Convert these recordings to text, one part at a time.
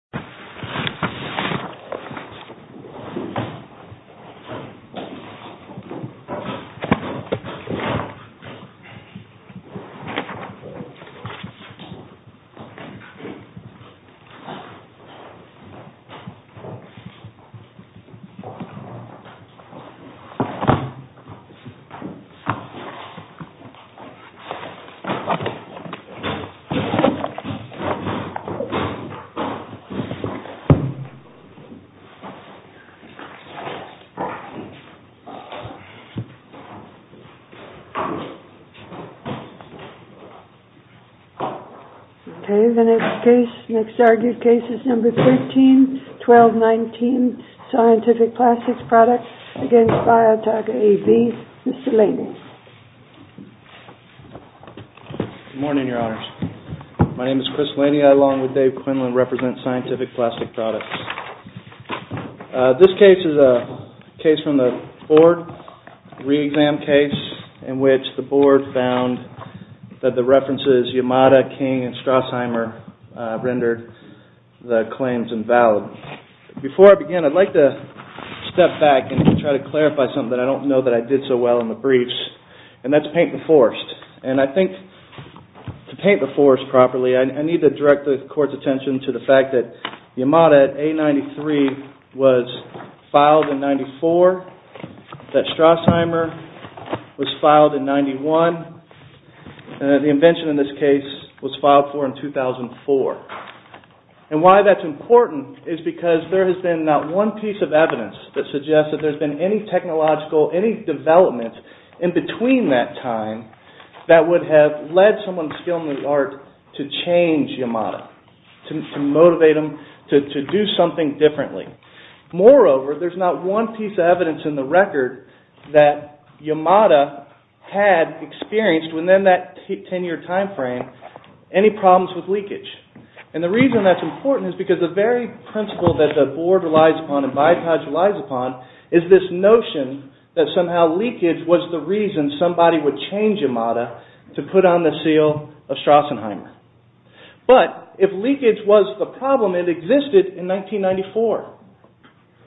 AB MR. LANEY. Good morning, Your Honors. My name is Chris Laney. I, along with Dave Quinlan, represent Scientific Plastic Products. This case is a case from the board re-exam case in which the board found that the references Yamada, King, and Strassheimer rendered the claims invalid. Before I begin, I'd like to step back and try to clarify something that I don't know that I did so well in the briefs, and that's paint the forest. I think to paint the forest properly, I need to direct the court's attention to the fact that Yamada at A93 was filed in 94, that Strassheimer was filed in 91, and that the invention in this case was filed for in 2004. Why that's important is because there has been not one piece of evidence that suggests that there's been any technological, any development in that would have led someone skilled in the art to change Yamada, to motivate them to do something differently. Moreover, there's not one piece of evidence in the record that Yamada had experienced within that 10-year time frame any problems with leakage. And the reason that's important is because the very principle that the board relies upon and BIOTAGE relies upon is this notion that somehow leakage was the reason somebody would change Yamada to put on the seal of Strassenheimer. But if leakage was the problem, it existed in 1994.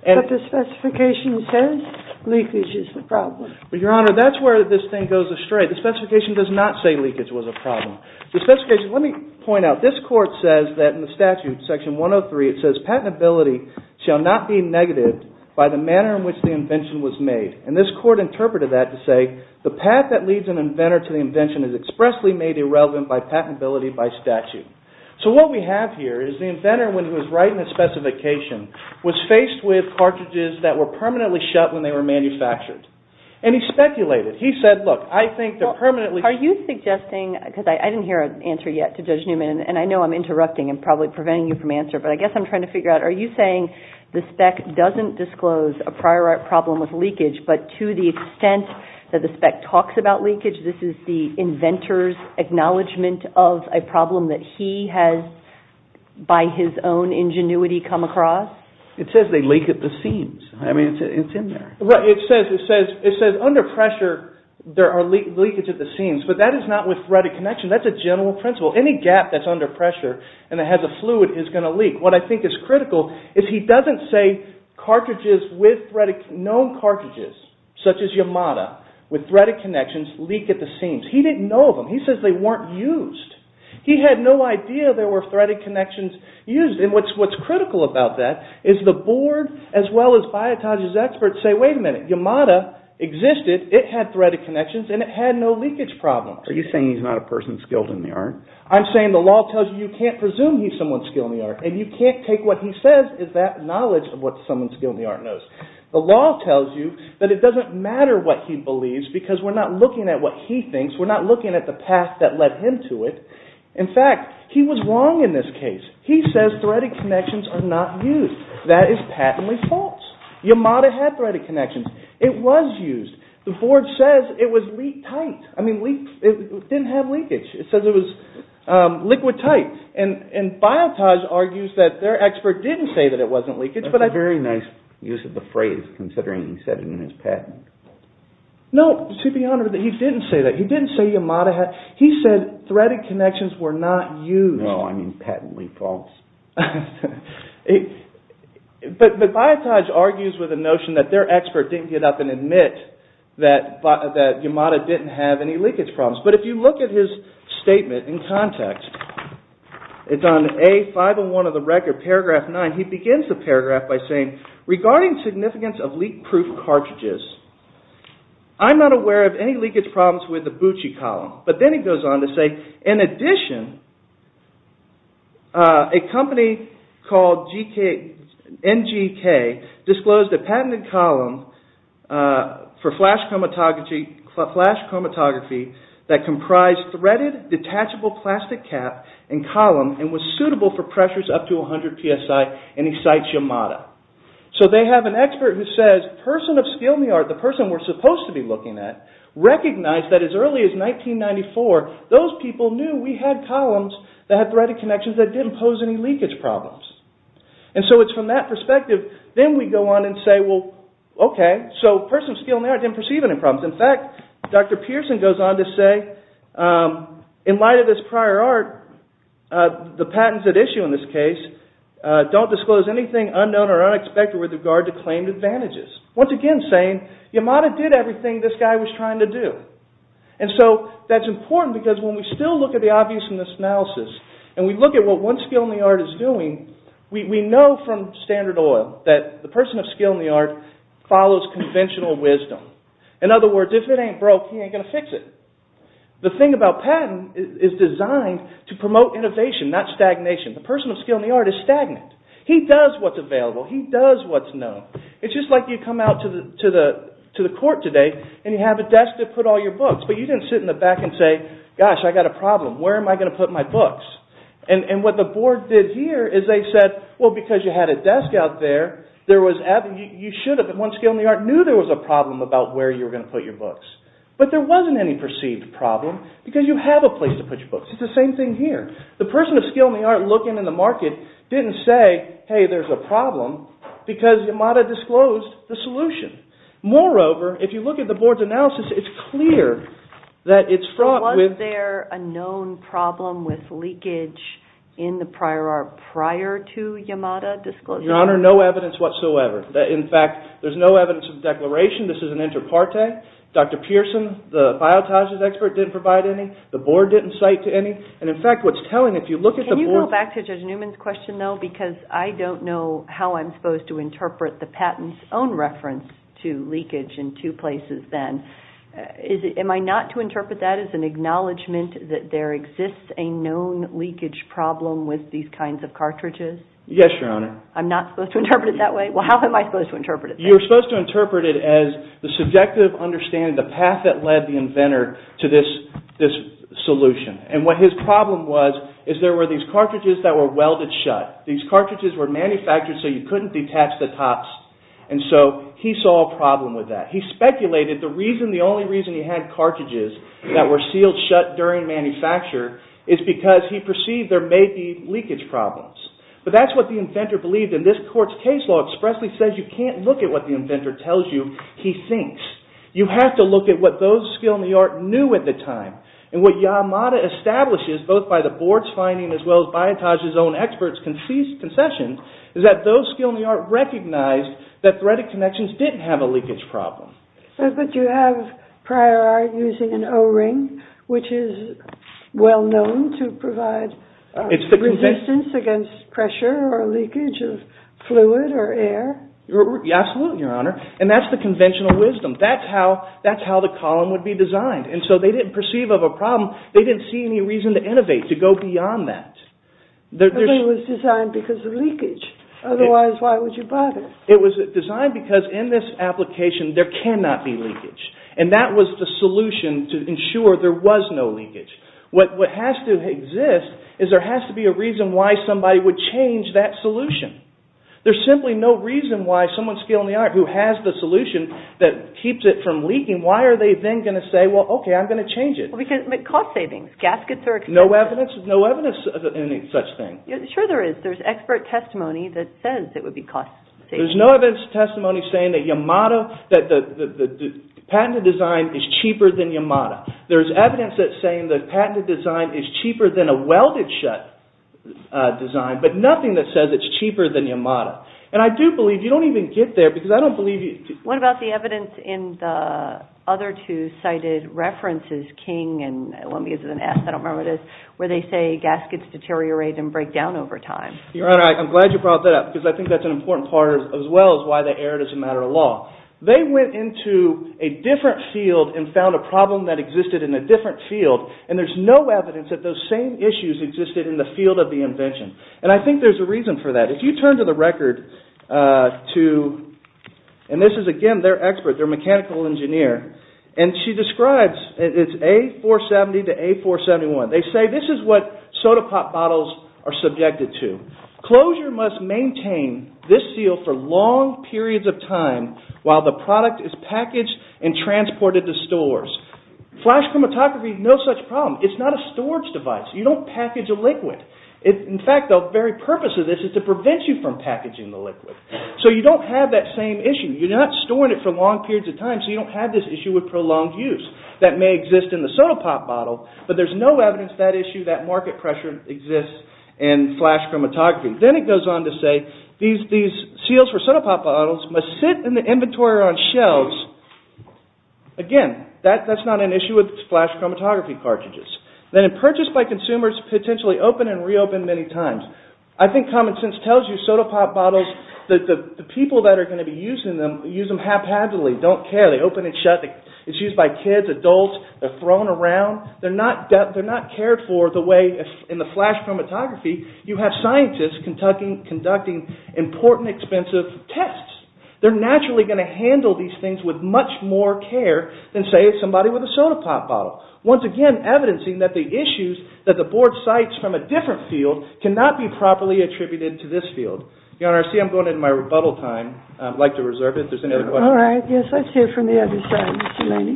But the specification says leakage is the problem. But, Your Honor, that's where this thing goes astray. The specification does not say leakage was a problem. The specification, let me point out, this court says that in the statute, section 103, it says patentability shall not be negative by the manner in which the invention was made. And this court interpreted that to say the path that leads an inventor to the invention is expressly made irrelevant by patentability by statute. So what we have here is the inventor, when he was writing the specification, was faced with cartridges that were permanently shut when they were manufactured. And he speculated. He said, look, I think they're permanently- Are you suggesting, because I didn't hear an answer yet to Judge Newman, and I know I'm interrupting and probably preventing you from answering, but I guess I'm trying to But to the extent that the spec talks about leakage, this is the inventor's acknowledgment of a problem that he has, by his own ingenuity, come across? It says they leak at the seams. I mean, it's in there. Right. It says under pressure, there are leakages at the seams. But that is not with threaded connection. That's a general principle. Any gap that's under pressure and that has a fluid is going to leak. What I think is critical is he doesn't say known cartridges, such as Yamada, with threaded connections leak at the seams. He didn't know of them. He says they weren't used. He had no idea there were threaded connections used. And what's critical about that is the board, as well as Biotage's experts, say, wait a minute, Yamada existed, it had threaded connections, and it had no leakage problems. Are you saying he's not a person skilled in the art? I'm saying the law tells you you can't presume he's someone skilled in the art, and you can't take what he says as that knowledge of what someone skilled in the art knows. The law tells you that it doesn't matter what he believes because we're not looking at what he thinks, we're not looking at the path that led him to it. In fact, he was wrong in this case. He says threaded connections are not used. That is patently false. Yamada had threaded connections. It was used. The board says it was leak tight. I mean, it didn't have leakage. It says it was liquid tight. And Biotage argues that their expert didn't say that it wasn't leakage. That's a very nice use of the phrase, considering he said it in his patent. No, to be honored, he didn't say that. He didn't say Yamada had, he said threaded connections were not used. No, I mean patently false. But Biotage argues with the notion that their expert didn't get up and admit that Yamada didn't have any leakage problems. But if you look at his statement in context, it's on A501 of the record, paragraph 9, he begins the paragraph by saying, regarding significance of leak-proof cartridges, I'm not aware of any leakage problems with the Buchi column. But then he goes on to say, in addition, a company called NGK disclosed a patented column for flash chromatography that comprised threaded, detachable plastic cap and column and was suitable for pressures up to 100 PSI, and he cites Yamada. So they have an expert who says, person of skill in the art, the person we're supposed to be looking at, recognized that as early as 1994, those people knew we had columns that had threaded connections that didn't pose any leakage problems. And so it's from that perspective, then we go on and say, well, okay, so person of skill in the art didn't perceive any problems. In fact, Dr. Pearson goes on to say, in light of this prior art, the patents at issue in this case don't disclose anything unknown or unexpected with regard to claimed advantages. Once again saying, Yamada did everything this guy was trying to do. And so that's important because when we still look at the obvious in this analysis, and we look at what one skill in the art is doing, we know from standard oil that the person of skill in the art follows conventional wisdom. In other words, if it ain't broke, he ain't going to fix it. The thing about patent is designed to promote innovation, not stagnation. The person of skill in the art is stagnant. He does what's available. He does what's known. It's just like you come out to the court today and you have a desk to put all your books, but you didn't sit in the back and say, gosh, I got a problem. Where am I going to put my books? And what the board did here is they said, well, because you had a desk out there, there was, you should have, one skill in the art knew there was a problem about where you were going to put your books. But there wasn't any perceived problem because you have a place to put your books. It's the same thing here. The person of skill in the art looking in the market didn't say, hey, there's a problem because Yamada disclosed the solution. Moreover, if you look at the board's analysis, it's clear that it's fraught with... Was there any problem with leakage in the prior art prior to Yamada disclosure? Your Honor, no evidence whatsoever. In fact, there's no evidence of declaration. This is an inter parte. Dr. Pearson, the biotages expert, didn't provide any. The board didn't cite to any. And in fact, what's telling, if you look at the board... Can you go back to Judge Newman's question, though, because I don't know how I'm supposed to interpret the patent's own reference to leakage in two places then. Am I not to interpret that as an acknowledgement that there exists a known leakage problem with these kinds of cartridges? Yes, Your Honor. I'm not supposed to interpret it that way? Well, how am I supposed to interpret it then? You're supposed to interpret it as the subjective understanding, the path that led the inventor to this solution. And what his problem was is there were these cartridges that were welded shut. These cartridges were manufactured so you couldn't detach the tops. And so he saw a problem with that. He speculated the reason, the only reason he had cartridges that were sealed shut during manufacture is because he perceived there may be leakage problems. But that's what the inventor believed, and this court's case law expressly says you can't look at what the inventor tells you, he thinks. You have to look at what those skilled in the art knew at the time. And what Yamada establishes, both by the board's finding as well as Biotage's own experts' concessions, is that those skilled in the art recognized that threaded connections didn't have a leakage problem. But you have prior art using an O-ring, which is well known to provide resistance against pressure or leakage of fluid or air. Absolutely, Your Honor. And that's the conventional wisdom. That's how the column would be designed. And so they didn't perceive of a problem, they didn't see any reason to innovate, to go beyond that. But it was designed because of leakage. Otherwise, why would you bother? It was designed because in this application, there cannot be leakage. And that was the solution to ensure there was no leakage. What has to exist is there has to be a reason why somebody would change that solution. There's simply no reason why someone skilled in the art who has the solution that keeps it from leaking, why are they then going to say, well, okay, I'm going to change it? Cost savings, gaskets are expensive. No evidence of any such thing. Sure there is. But there's expert testimony that says it would be cost saving. There's no evidence of testimony saying that the patented design is cheaper than Yamada. There's evidence that's saying the patented design is cheaper than a welded shut design, but nothing that says it's cheaper than Yamada. And I do believe, you don't even get there, because I don't believe you... What about the evidence in the other two cited references, King and I don't remember what where they say gaskets deteriorate and break down over time. Your Honor, I'm glad you brought that up, because I think that's an important part as well as why they erred as a matter of law. They went into a different field and found a problem that existed in a different field, and there's no evidence that those same issues existed in the field of the invention. And I think there's a reason for that. If you turn to the record to, and this is again their expert, their mechanical engineer, and she describes, it's A470 to A471. They say this is what soda pop bottles are subjected to. Closure must maintain this seal for long periods of time while the product is packaged and transported to stores. Flash chromatography, no such problem. It's not a storage device. You don't package a liquid. In fact, the very purpose of this is to prevent you from packaging the liquid. So you don't have that same issue. You're not storing it for long periods of time, so you don't have this issue with prolonged use that may exist in the soda pop bottle, but there's no evidence of that issue, that market pressure exists in flash chromatography. Then it goes on to say these seals for soda pop bottles must sit in the inventory or on shelves. Again, that's not an issue with flash chromatography cartridges. Then purchased by consumers, potentially open and reopen many times. I think common sense tells you soda pop bottles, the people that are going to be using them, use them haphazardly, don't care. They open and shut. It's used by kids, adults. They're thrown around. They're not cared for the way in the flash chromatography you have scientists conducting important expensive tests. They're naturally going to handle these things with much more care than, say, somebody with a soda pop bottle. Once again, evidencing that the issues that the board cites from a different field cannot be properly attributed to this field. Your Honor, I see I'm going into my rebuttal time. I'd like to reserve it if there's any other questions. All right. Yes, let's hear from the other side, Mr. Laney.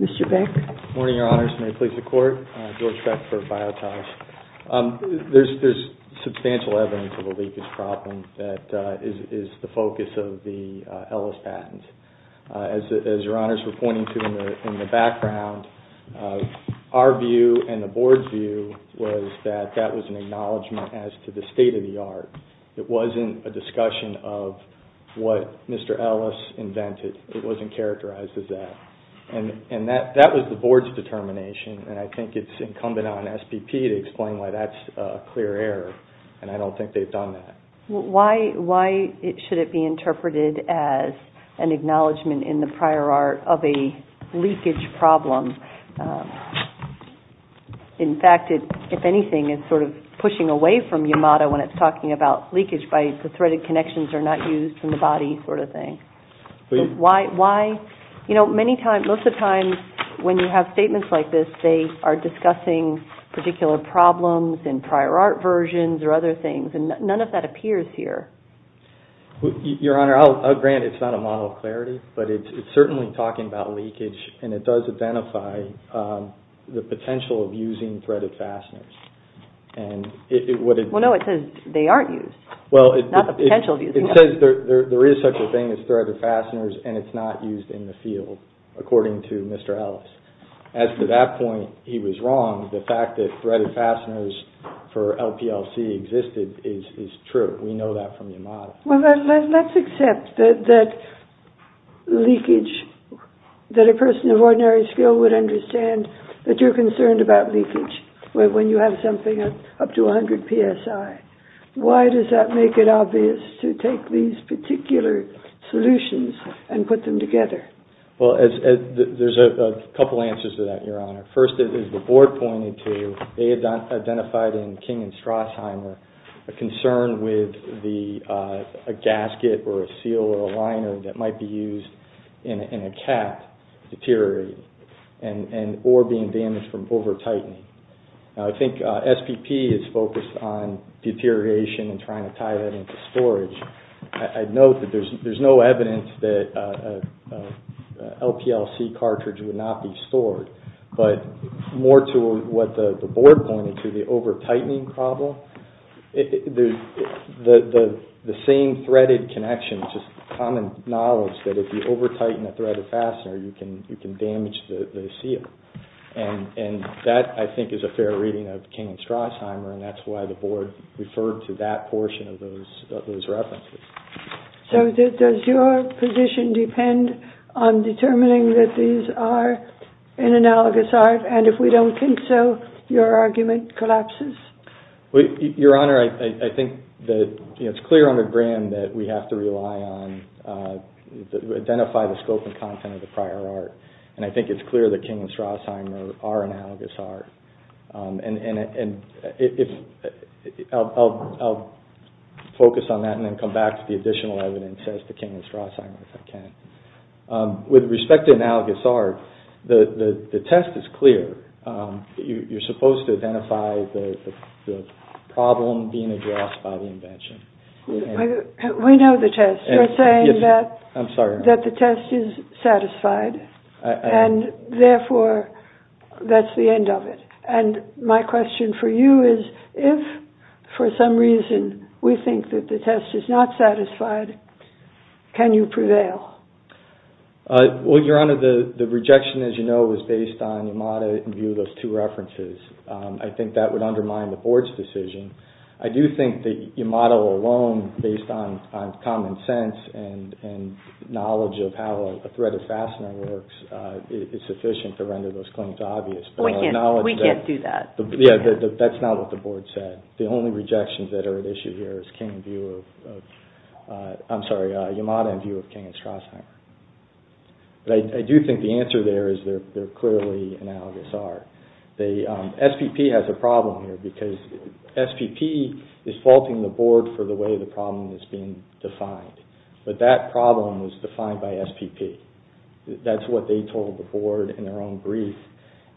Mr. Beck? Morning, Your Honors. May it please the Court? George Beck for Biotas. There's substantial evidence of a leakage problem that is the focus of the Ellis patent. As Your Honors were pointing to in the background, our view and the board's view was that that was an acknowledgment as to the state of the art. It wasn't a discussion of what Mr. Ellis invented. It wasn't characterized as that. And that was the board's determination, and I think it's incumbent on SPP to explain why that's a clear error, and I don't think they've done that. Why should it be interpreted as an acknowledgment in the prior art of a leakage problem? In fact, if anything, it's sort of pushing away from Yamada when it's talking about leakage by the threaded connections are not used in the body sort of thing. Most of the time when you have statements like this, they are discussing particular problems in prior art versions or other things, and none of that appears here. Your Honor, I'll grant it's not a model of clarity, but it's certainly talking about the potential of using threaded fasteners. Well, no, it says they aren't used. Well, it says there is such a thing as threaded fasteners, and it's not used in the field, according to Mr. Ellis. As to that point, he was wrong. The fact that threaded fasteners for LPLC existed is true. We know that from Yamada. Well, let's accept that a person of ordinary skill would understand that you're concerned about leakage when you have something up to 100 PSI. Why does that make it obvious to take these particular solutions and put them together? Well, there's a couple answers to that, Your Honor. First, as the Board pointed to, they identified in King and Strassheimer a concern with a gasket or a seal or a liner that might be used in a cap deteriorating or being damaged from over-tightening. Now, I think SPP is focused on deterioration and trying to tie that into storage. I'd note that there's no evidence that an LPLC cartridge would not be stored. But more to what the Board pointed to, the over-tightening problem, the same threaded connection, just common knowledge that if you over-tighten a threaded fastener, you can damage the seal. And that, I think, is a fair reading of King and Strassheimer, and that's why the Board referred to that portion of those references. So does your position depend on determining that these are an analogous art? And if we don't think so, your argument collapses? Your Honor, I think that it's clear under Graham that we have to rely on, identify the scope and content of the prior art. And I think it's clear that King and Strassheimer are analogous art. I'll focus on that and then come back to the additional evidence as to King and Strassheimer if I can. With respect to analogous art, the test is clear. You're supposed to identify the problem being addressed by the invention. We know the test. You're saying that the test is satisfied, and therefore, that's the end of it. And my question for you is, if for some reason we think that the test is not satisfied, can you prevail? Well, Your Honor, the rejection, as you know, is based on Yamada in view of those two references. I think that would undermine the Board's decision. I do think that Yamada alone, based on common sense and knowledge of how a threaded fastener works, is sufficient to render those claims obvious. We can't do that. Yeah, that's not what the Board said. The only rejections that are at issue here is Yamada in view of King and Strassheimer. But I do think the answer there is they're clearly analogous art. SPP has a problem here because SPP is faulting the Board for the way the problem is being defined. But that problem was defined by SPP. That's what they told the Board in their own brief,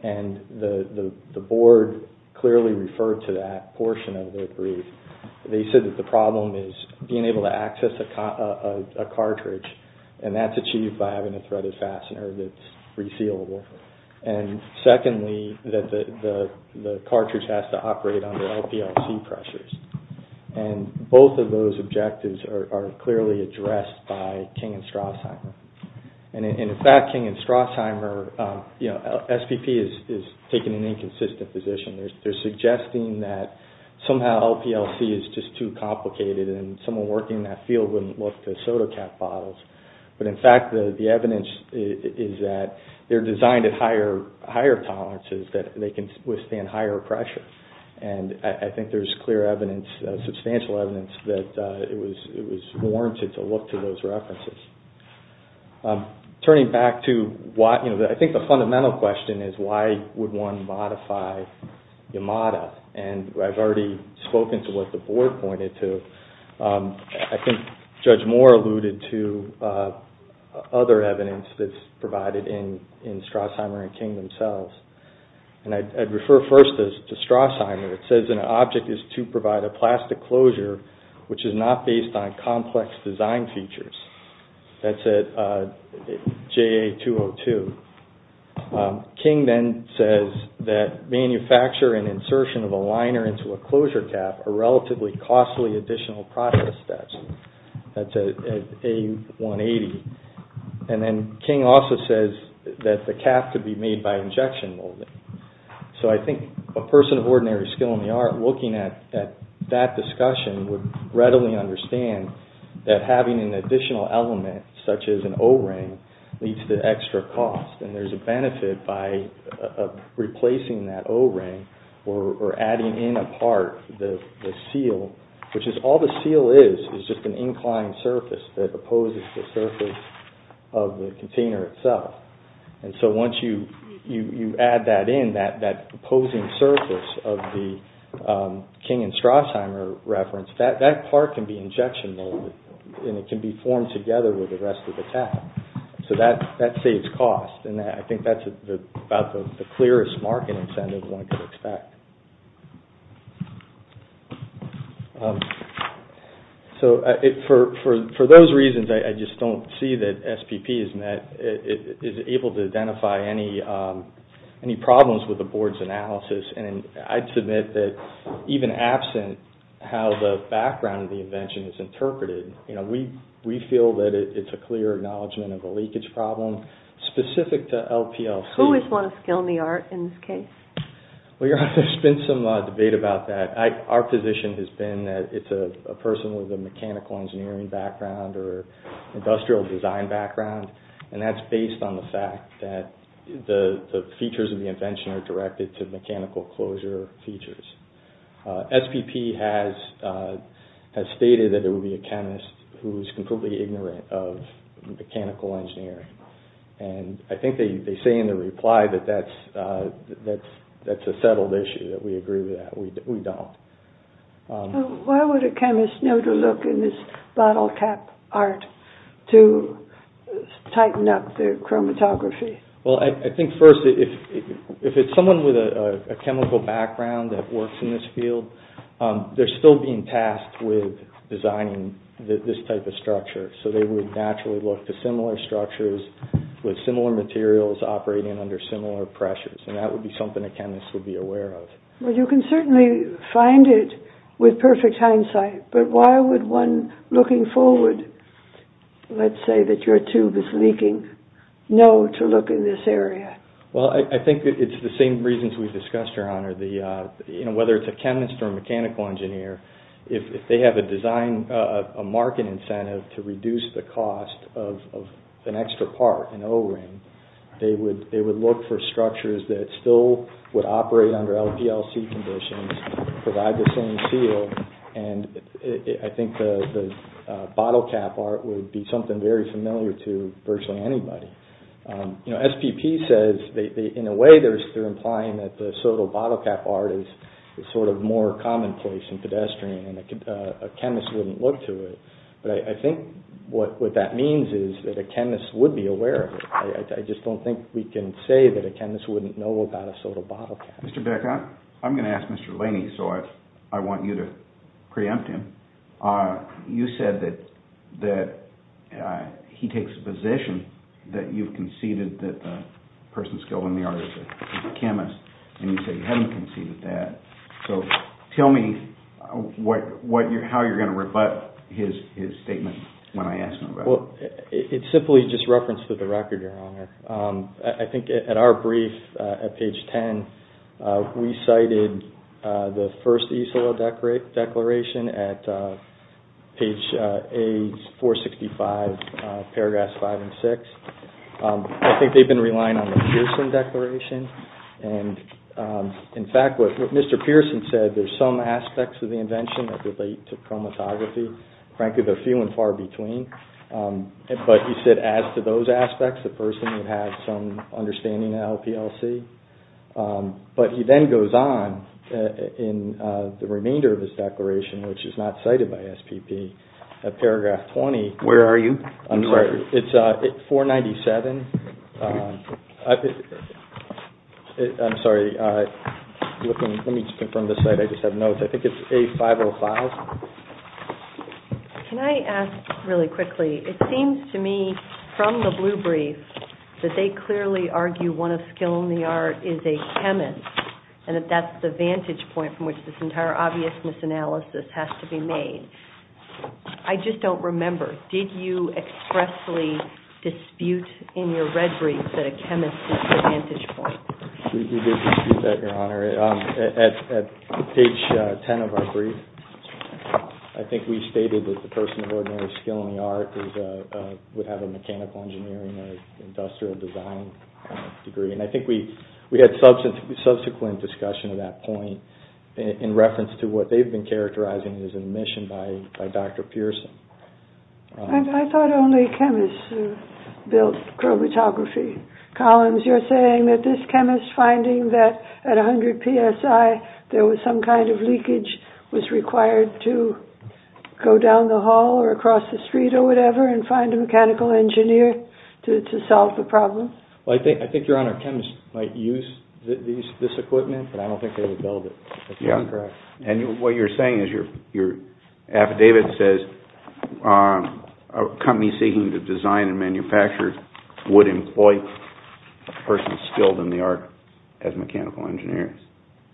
and the Board clearly referred to that portion of their brief. They said that the problem is being able to access a cartridge, and that's achieved by having a threaded fastener that's resealable. And secondly, that the cartridge has to operate under LPLC pressures. And both of those objectives are clearly addressed by King and Strassheimer. And in fact, King and Strassheimer, you know, SPP is taking an inconsistent position. They're suggesting that somehow LPLC is just too complicated and someone working that field wouldn't look to soda cap bottles. But in fact, the evidence is that they're designed at higher tolerances, that they can withstand higher pressure. And I think there's clear evidence, substantial evidence, that it was warranted to look to those references. Turning back to, you know, I think the fundamental question is why would one modify Yamada? And I've already spoken to what the Board pointed to. I think Judge Moore alluded to other evidence that's provided in Strassheimer and King themselves. And I'd refer first to Strassheimer. It says an object is to provide a plastic closure which is not based on complex design features. That's at JA-202. King then says that manufacture and insertion of a liner into a closure cap are relatively costly additional process steps. That's at A-180. And then King also says that the cap could be made by injection molding. So I think a person of ordinary skill in the art looking at that discussion would readily understand that having an additional element such as an O-ring leads to extra cost. And there's a benefit by replacing that O-ring or adding in a part, the seal, which is all the seal is is just an inclined surface that opposes the surface of the container itself. And so once you add that in, that opposing surface of the King and Strassheimer reference, that part can be injection molded and it can be formed together with the rest of the cap. So that saves cost and I think that's about the clearest marketing incentive one could expect. So for those reasons, I just don't see that SPP is able to identify any problems with the board's analysis. And I'd submit that even absent how the background of the invention is interpreted, we feel that it's a clear acknowledgment of a leakage problem specific to LPLC. Who is one of skill in the art in this case? There's been some debate about that. Our position has been that it's a person with a mechanical engineering background or industrial design background and that's based on the fact that the features of the invention are directed to mechanical closure features. SPP has stated that it would be a chemist who is completely ignorant of mechanical engineering. And I think they say in the reply that that's a settled issue, that we agree with that. We don't. Why would a chemist know to look in this bottle cap art to tighten up the chromatography? Well, I think first if it's someone with a chemical background that works in this field, they're still being tasked with designing this type of structure. So they would naturally look to similar structures with similar materials operating under similar pressures. And that would be something a chemist would be aware of. Well, you can certainly find it with perfect hindsight, but why would one looking forward, let's say that your tube is leaking, know to look in this area? Well, I think it's the same reasons we've discussed, Your Honor. Whether it's a chemist or a mechanical engineer, if they have a design, a market incentive to reduce the cost of an extra part, an O-ring, they would look for structures that still would operate under LPLC conditions, provide the same seal, and I think the bottle cap art would be something very familiar to virtually anybody. SPP says, in a way, they're implying that the soda bottle cap art is sort of more commonplace and pedestrian, and a chemist wouldn't look to it. I just don't think we can say that a chemist wouldn't know about a soda bottle cap. Mr. Beck, I'm going to ask Mr. Laney, so I want you to preempt him. You said that he takes the position that you've conceded that the person skilled in the art is a chemist, and you say you haven't conceded that. Tell me how you're going to rebut his statement when I ask him about it. It's simply just reference to the record, Your Honor. I think at our brief, at page 10, we cited the first East Oil Declaration at page 465, paragraphs 5 and 6. I think they've been relying on the Pearson Declaration, and in fact, what Mr. Pearson said, there's some aspects of the invention that relate to chromatography. Frankly, they're few and far between, but he said as to those aspects, the person would have some understanding of LPLC, but he then goes on in the remainder of his declaration, which is not cited by SPP, at paragraph 20. Where are you? I'm sorry. Let me just confirm this slide. I just have notes. I think it's A505. Can I ask really quickly, it seems to me from the blue brief that they clearly argue one of skilled in the art is a chemist, and that that's the vantage point from which this entire obvious misanalysis has to be made. I just don't remember. Did you expressly dispute in your red brief that a chemist is the vantage point? We did dispute that, Your Honor. At page 10 of our brief, I think we stated that the person of ordinary skill in the art would have a mechanical engineering or industrial design degree, and I think we had subsequent discussion of that point in reference to what they've been characterizing as an admission by Dr. Pearson. I thought only chemists built chromatography. Collins, you're saying that this chemist finding that at 100 PSI, there was some kind of leakage was required to go down the hall or across the street or whatever and find a mechanical engineer to solve the problem? That's correct. And what you're saying is your affidavit says a company seeking to design and manufacture would employ a person skilled in the art as a mechanical engineer?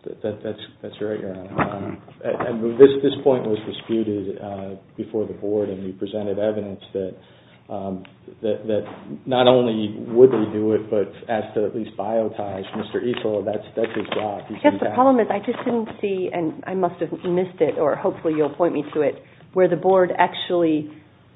That's right, Your Honor. This point was disputed before the board, and we presented evidence that not only would they do it, but as to at least biotize. Mr. Easel, that's his job. I guess the problem is I just didn't see, and I must have missed it, or hopefully you'll point me to it, where the board actually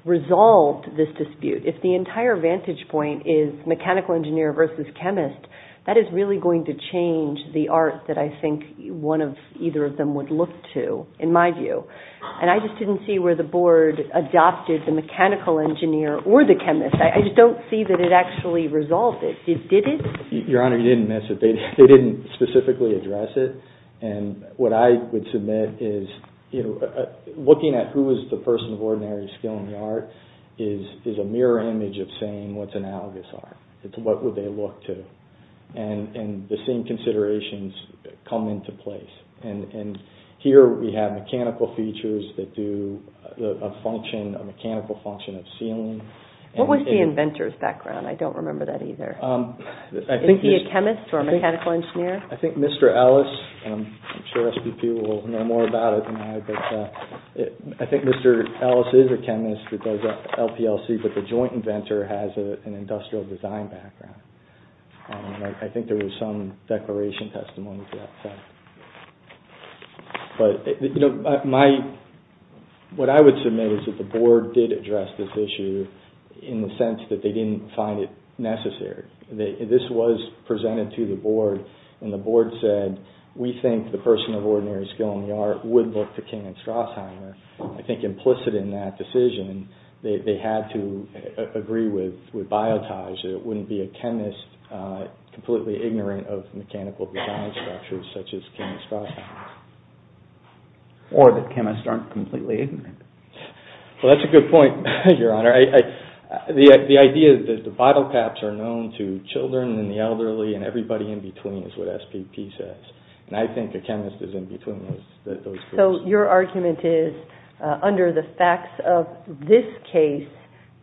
resolved this dispute. If the entire vantage point is mechanical engineer versus chemist, that is really going to change the art that I think either of them would look to, in my view. And I just didn't see where the board adopted the mechanical engineer or the chemist. I just don't see that it actually resolved it. Did it? Your Honor, you didn't miss it. They didn't specifically address it. And what I would submit is looking at who is the person of ordinary skill in the art is a mirror image of saying what's analogous art. What would they look to? And the same considerations come into place. And here we have mechanical features that do a mechanical function of sealing. What was the inventor's background? I don't remember that either. Is he a chemist or a mechanical engineer? I think Mr. Ellis, and I'm sure SPP will know more about it than I, but I think Mr. Ellis is a chemist that does LPLC, but the joint inventor has an industrial design background. I think there was some declaration testimony to that fact. But what I would submit is that the board did address this issue in the sense that they didn't find it necessary. This was presented to the board and the board said, we think the person of ordinary skill in the art would look to Ken Strossheimer. I think implicit in that decision, they had to agree with Biotage that it wouldn't be a chemist completely ignorant of mechanical design structures such as Ken Strossheimer. Or that chemists aren't completely ignorant. Well, that's a good point, Your Honor. The idea that the bottle caps are known to children and the elderly and everybody in between is what SPP says. So your argument is, under the facts of this case,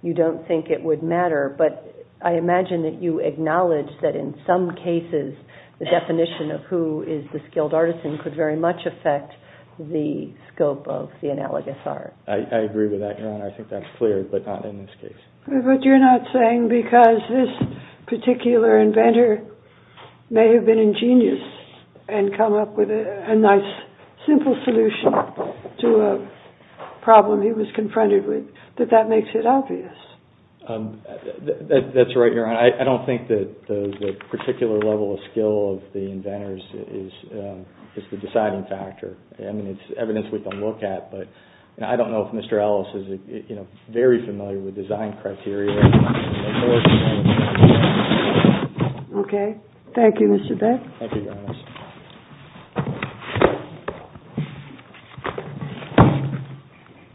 you don't think it would matter, but I imagine that you acknowledge that in some cases the definition of who is the skilled artisan could very much affect the scope of the analogous art. I agree with that, Your Honor. I think that's clear, but not in this case. But you're not saying, because this particular inventor may have been ingenious and come up with a nice simple solution to a problem he was confronted with, that that makes it obvious? That's right, Your Honor. I don't think that the particular level of skill of the inventors is the deciding factor. I mean, it's evidence we can look at, but I don't know if Mr. Ellis is very familiar with design criteria. Okay. Thank you, Mr. Beck. Thank you, Your Honor.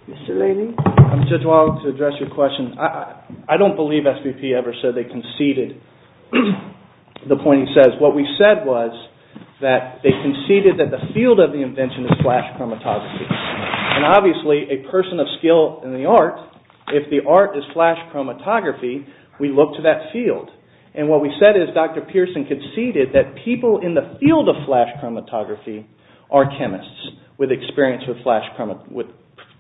Mr. Laley? I'm just going to address your question. I don't believe SPP ever said they conceded the point he says. What we said was that they conceded that the field of the invention is flash chromatography. And obviously, a person of skill in the art, if the art is flash chromatography, we look to that field. And what we said is Dr. Pearson conceded that people in the field of flash chromatography are chemists with experience with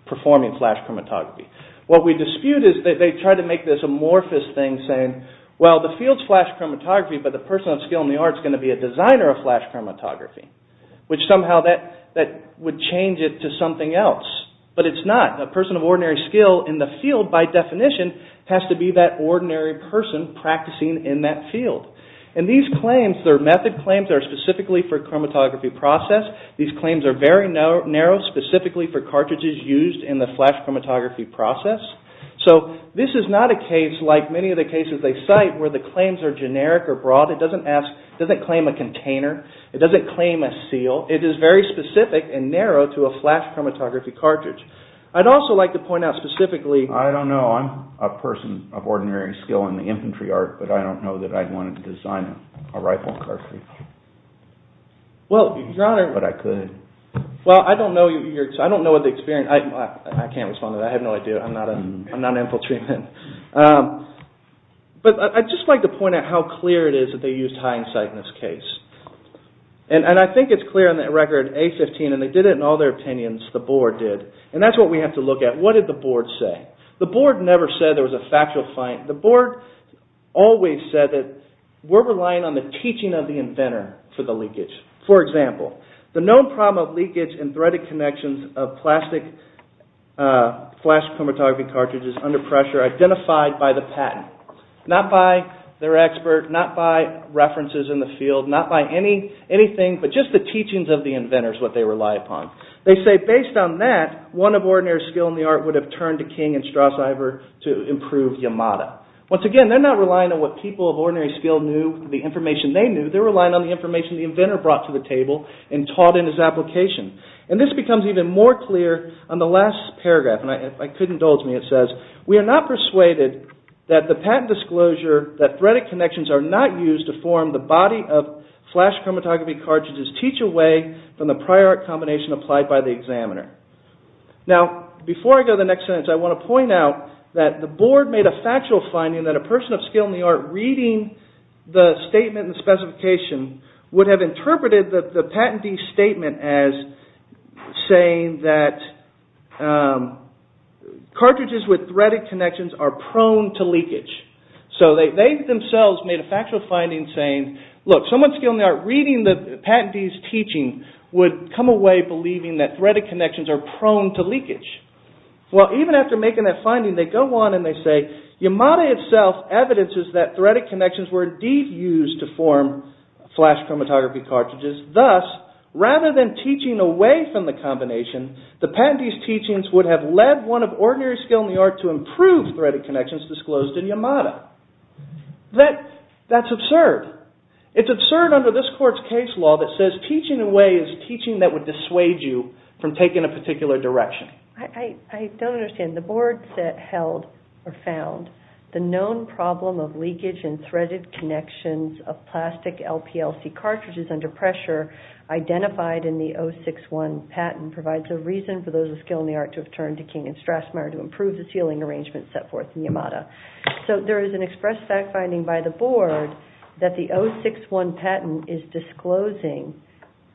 performing flash chromatography. What we dispute is that they try to make this amorphous thing saying, well, the field is flash chromatography, but the person of skill in the art is going to be a designer of flash chromatography. Which somehow that would change it to something else. But it's not. A person of ordinary skill in the field, by definition, has to be that ordinary person practicing in that field. And these claims, their method claims, are specifically for chromatography process. These claims are very narrow, specifically for cartridges used in the flash chromatography process. So this is not a case, like many of the cases they cite, where the claims are generic or broad. It doesn't claim a container. It doesn't claim a seal. It is very specific and narrow to a flash chromatography cartridge. I'd also like to point out specifically... I don't know. I'm a person of ordinary skill in the infantry art, but I don't know that I'd want to design a rifle cartridge. But I could. Well, I don't know the experience. I can't respond to that. I have no idea. I'm not an infantryman. But I'd just like to point out how clear it is that they used hindsight in this case. And I think it's clear in that record, A15, and they did it in all their opinions, the board did. And that's what we have to look at. What did the board say? The board never said there was a factual find. The board always said that we're relying on the teaching of the inventor for the leakage. For example, the known problem of leakage in threaded connections of plastic flash chromatography cartridges under pressure identified by the patent, not by their expert, not by references in the field, not by anything, but just the teachings of the inventors, what they rely upon. They say based on that, one of ordinary skill in the art would have turned to King and Strauss-Iver to improve Yamada. Once again, they're not relying on what people of ordinary skill knew, the information they knew. They're relying on the information the inventor brought to the table and taught in his application. And this becomes even more clear on the last paragraph, and I could indulge me. It says, we are not persuaded that the patent disclosure that threaded connections are not used to form the body of flash chromatography cartridges teach away from the prior art combination applied by the examiner. Now, before I go to the next sentence, I want to point out that the board made a factual finding that a person of skill in the art reading the statement and the specification would have interpreted the patentee's statement as saying that cartridges with threaded connections are prone to leakage. So they themselves made a factual finding saying, look, someone of skill in the art reading the patentee's teaching would come away believing that threaded connections are prone to leakage. Well, even after making that finding, they go on and they say, Yamada itself evidences that threaded connections were indeed used to form flash chromatography cartridges. Thus, rather than teaching away from the combination, the patentee's teachings would have led one of ordinary skill in the art to improve threaded connections disclosed in Yamada. That's absurd. It's absurd under this court's case law that says teaching away is teaching that would dissuade you from taking a particular direction. I don't understand. The board found the known problem of leakage in threaded connections of plastic LPLC cartridges under pressure identified in the 061 patent provides a reason for those of skill in the art to have turned to King and Strassmayer to improve the sealing arrangement set forth in Yamada. So there is an express fact finding by the board that the 061 patent is disclosing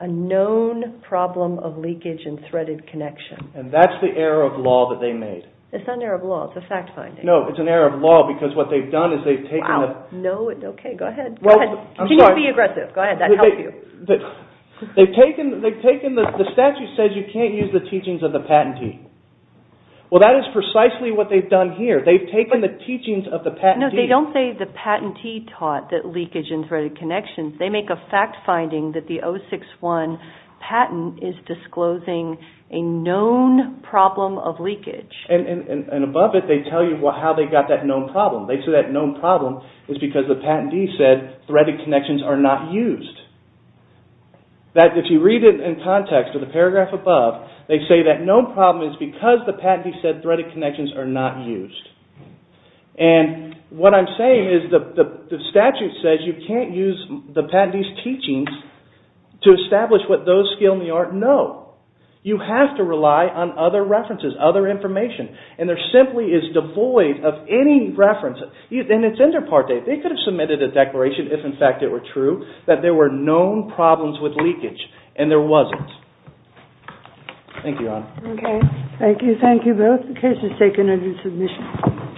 a known problem of leakage in threaded connections. And that's the error of law that they made. It's not an error of law. It's a fact finding. No, it's an error of law because what they've done is they've taken the... Wow. No. Okay. Go ahead. Continue to be aggressive. Go ahead. That helps you. The statute says you can't use the teachings of the patentee. Well, that is precisely what they've done here. They've taken the teachings of the patentee... No, they don't say the patentee taught that leakage in threaded connections. They make a fact finding that the 061 patent is disclosing a known problem of leakage. And above it they tell you how they got that known problem. They say that known problem is because the patentee said threaded connections are not used. If you read it in context of the paragraph above, they say that known problem is because the patentee said threaded connections are not used. And what I'm saying is the statute says you can't use the patentee's teachings to establish what those skill in the art know. You have to rely on other references, other information. And there simply is devoid of any reference. And it's inter parte. They could have submitted a declaration if in fact it were true that there were known problems with leakage. Okay. Thank you. Thank you both. The case is taken under submission.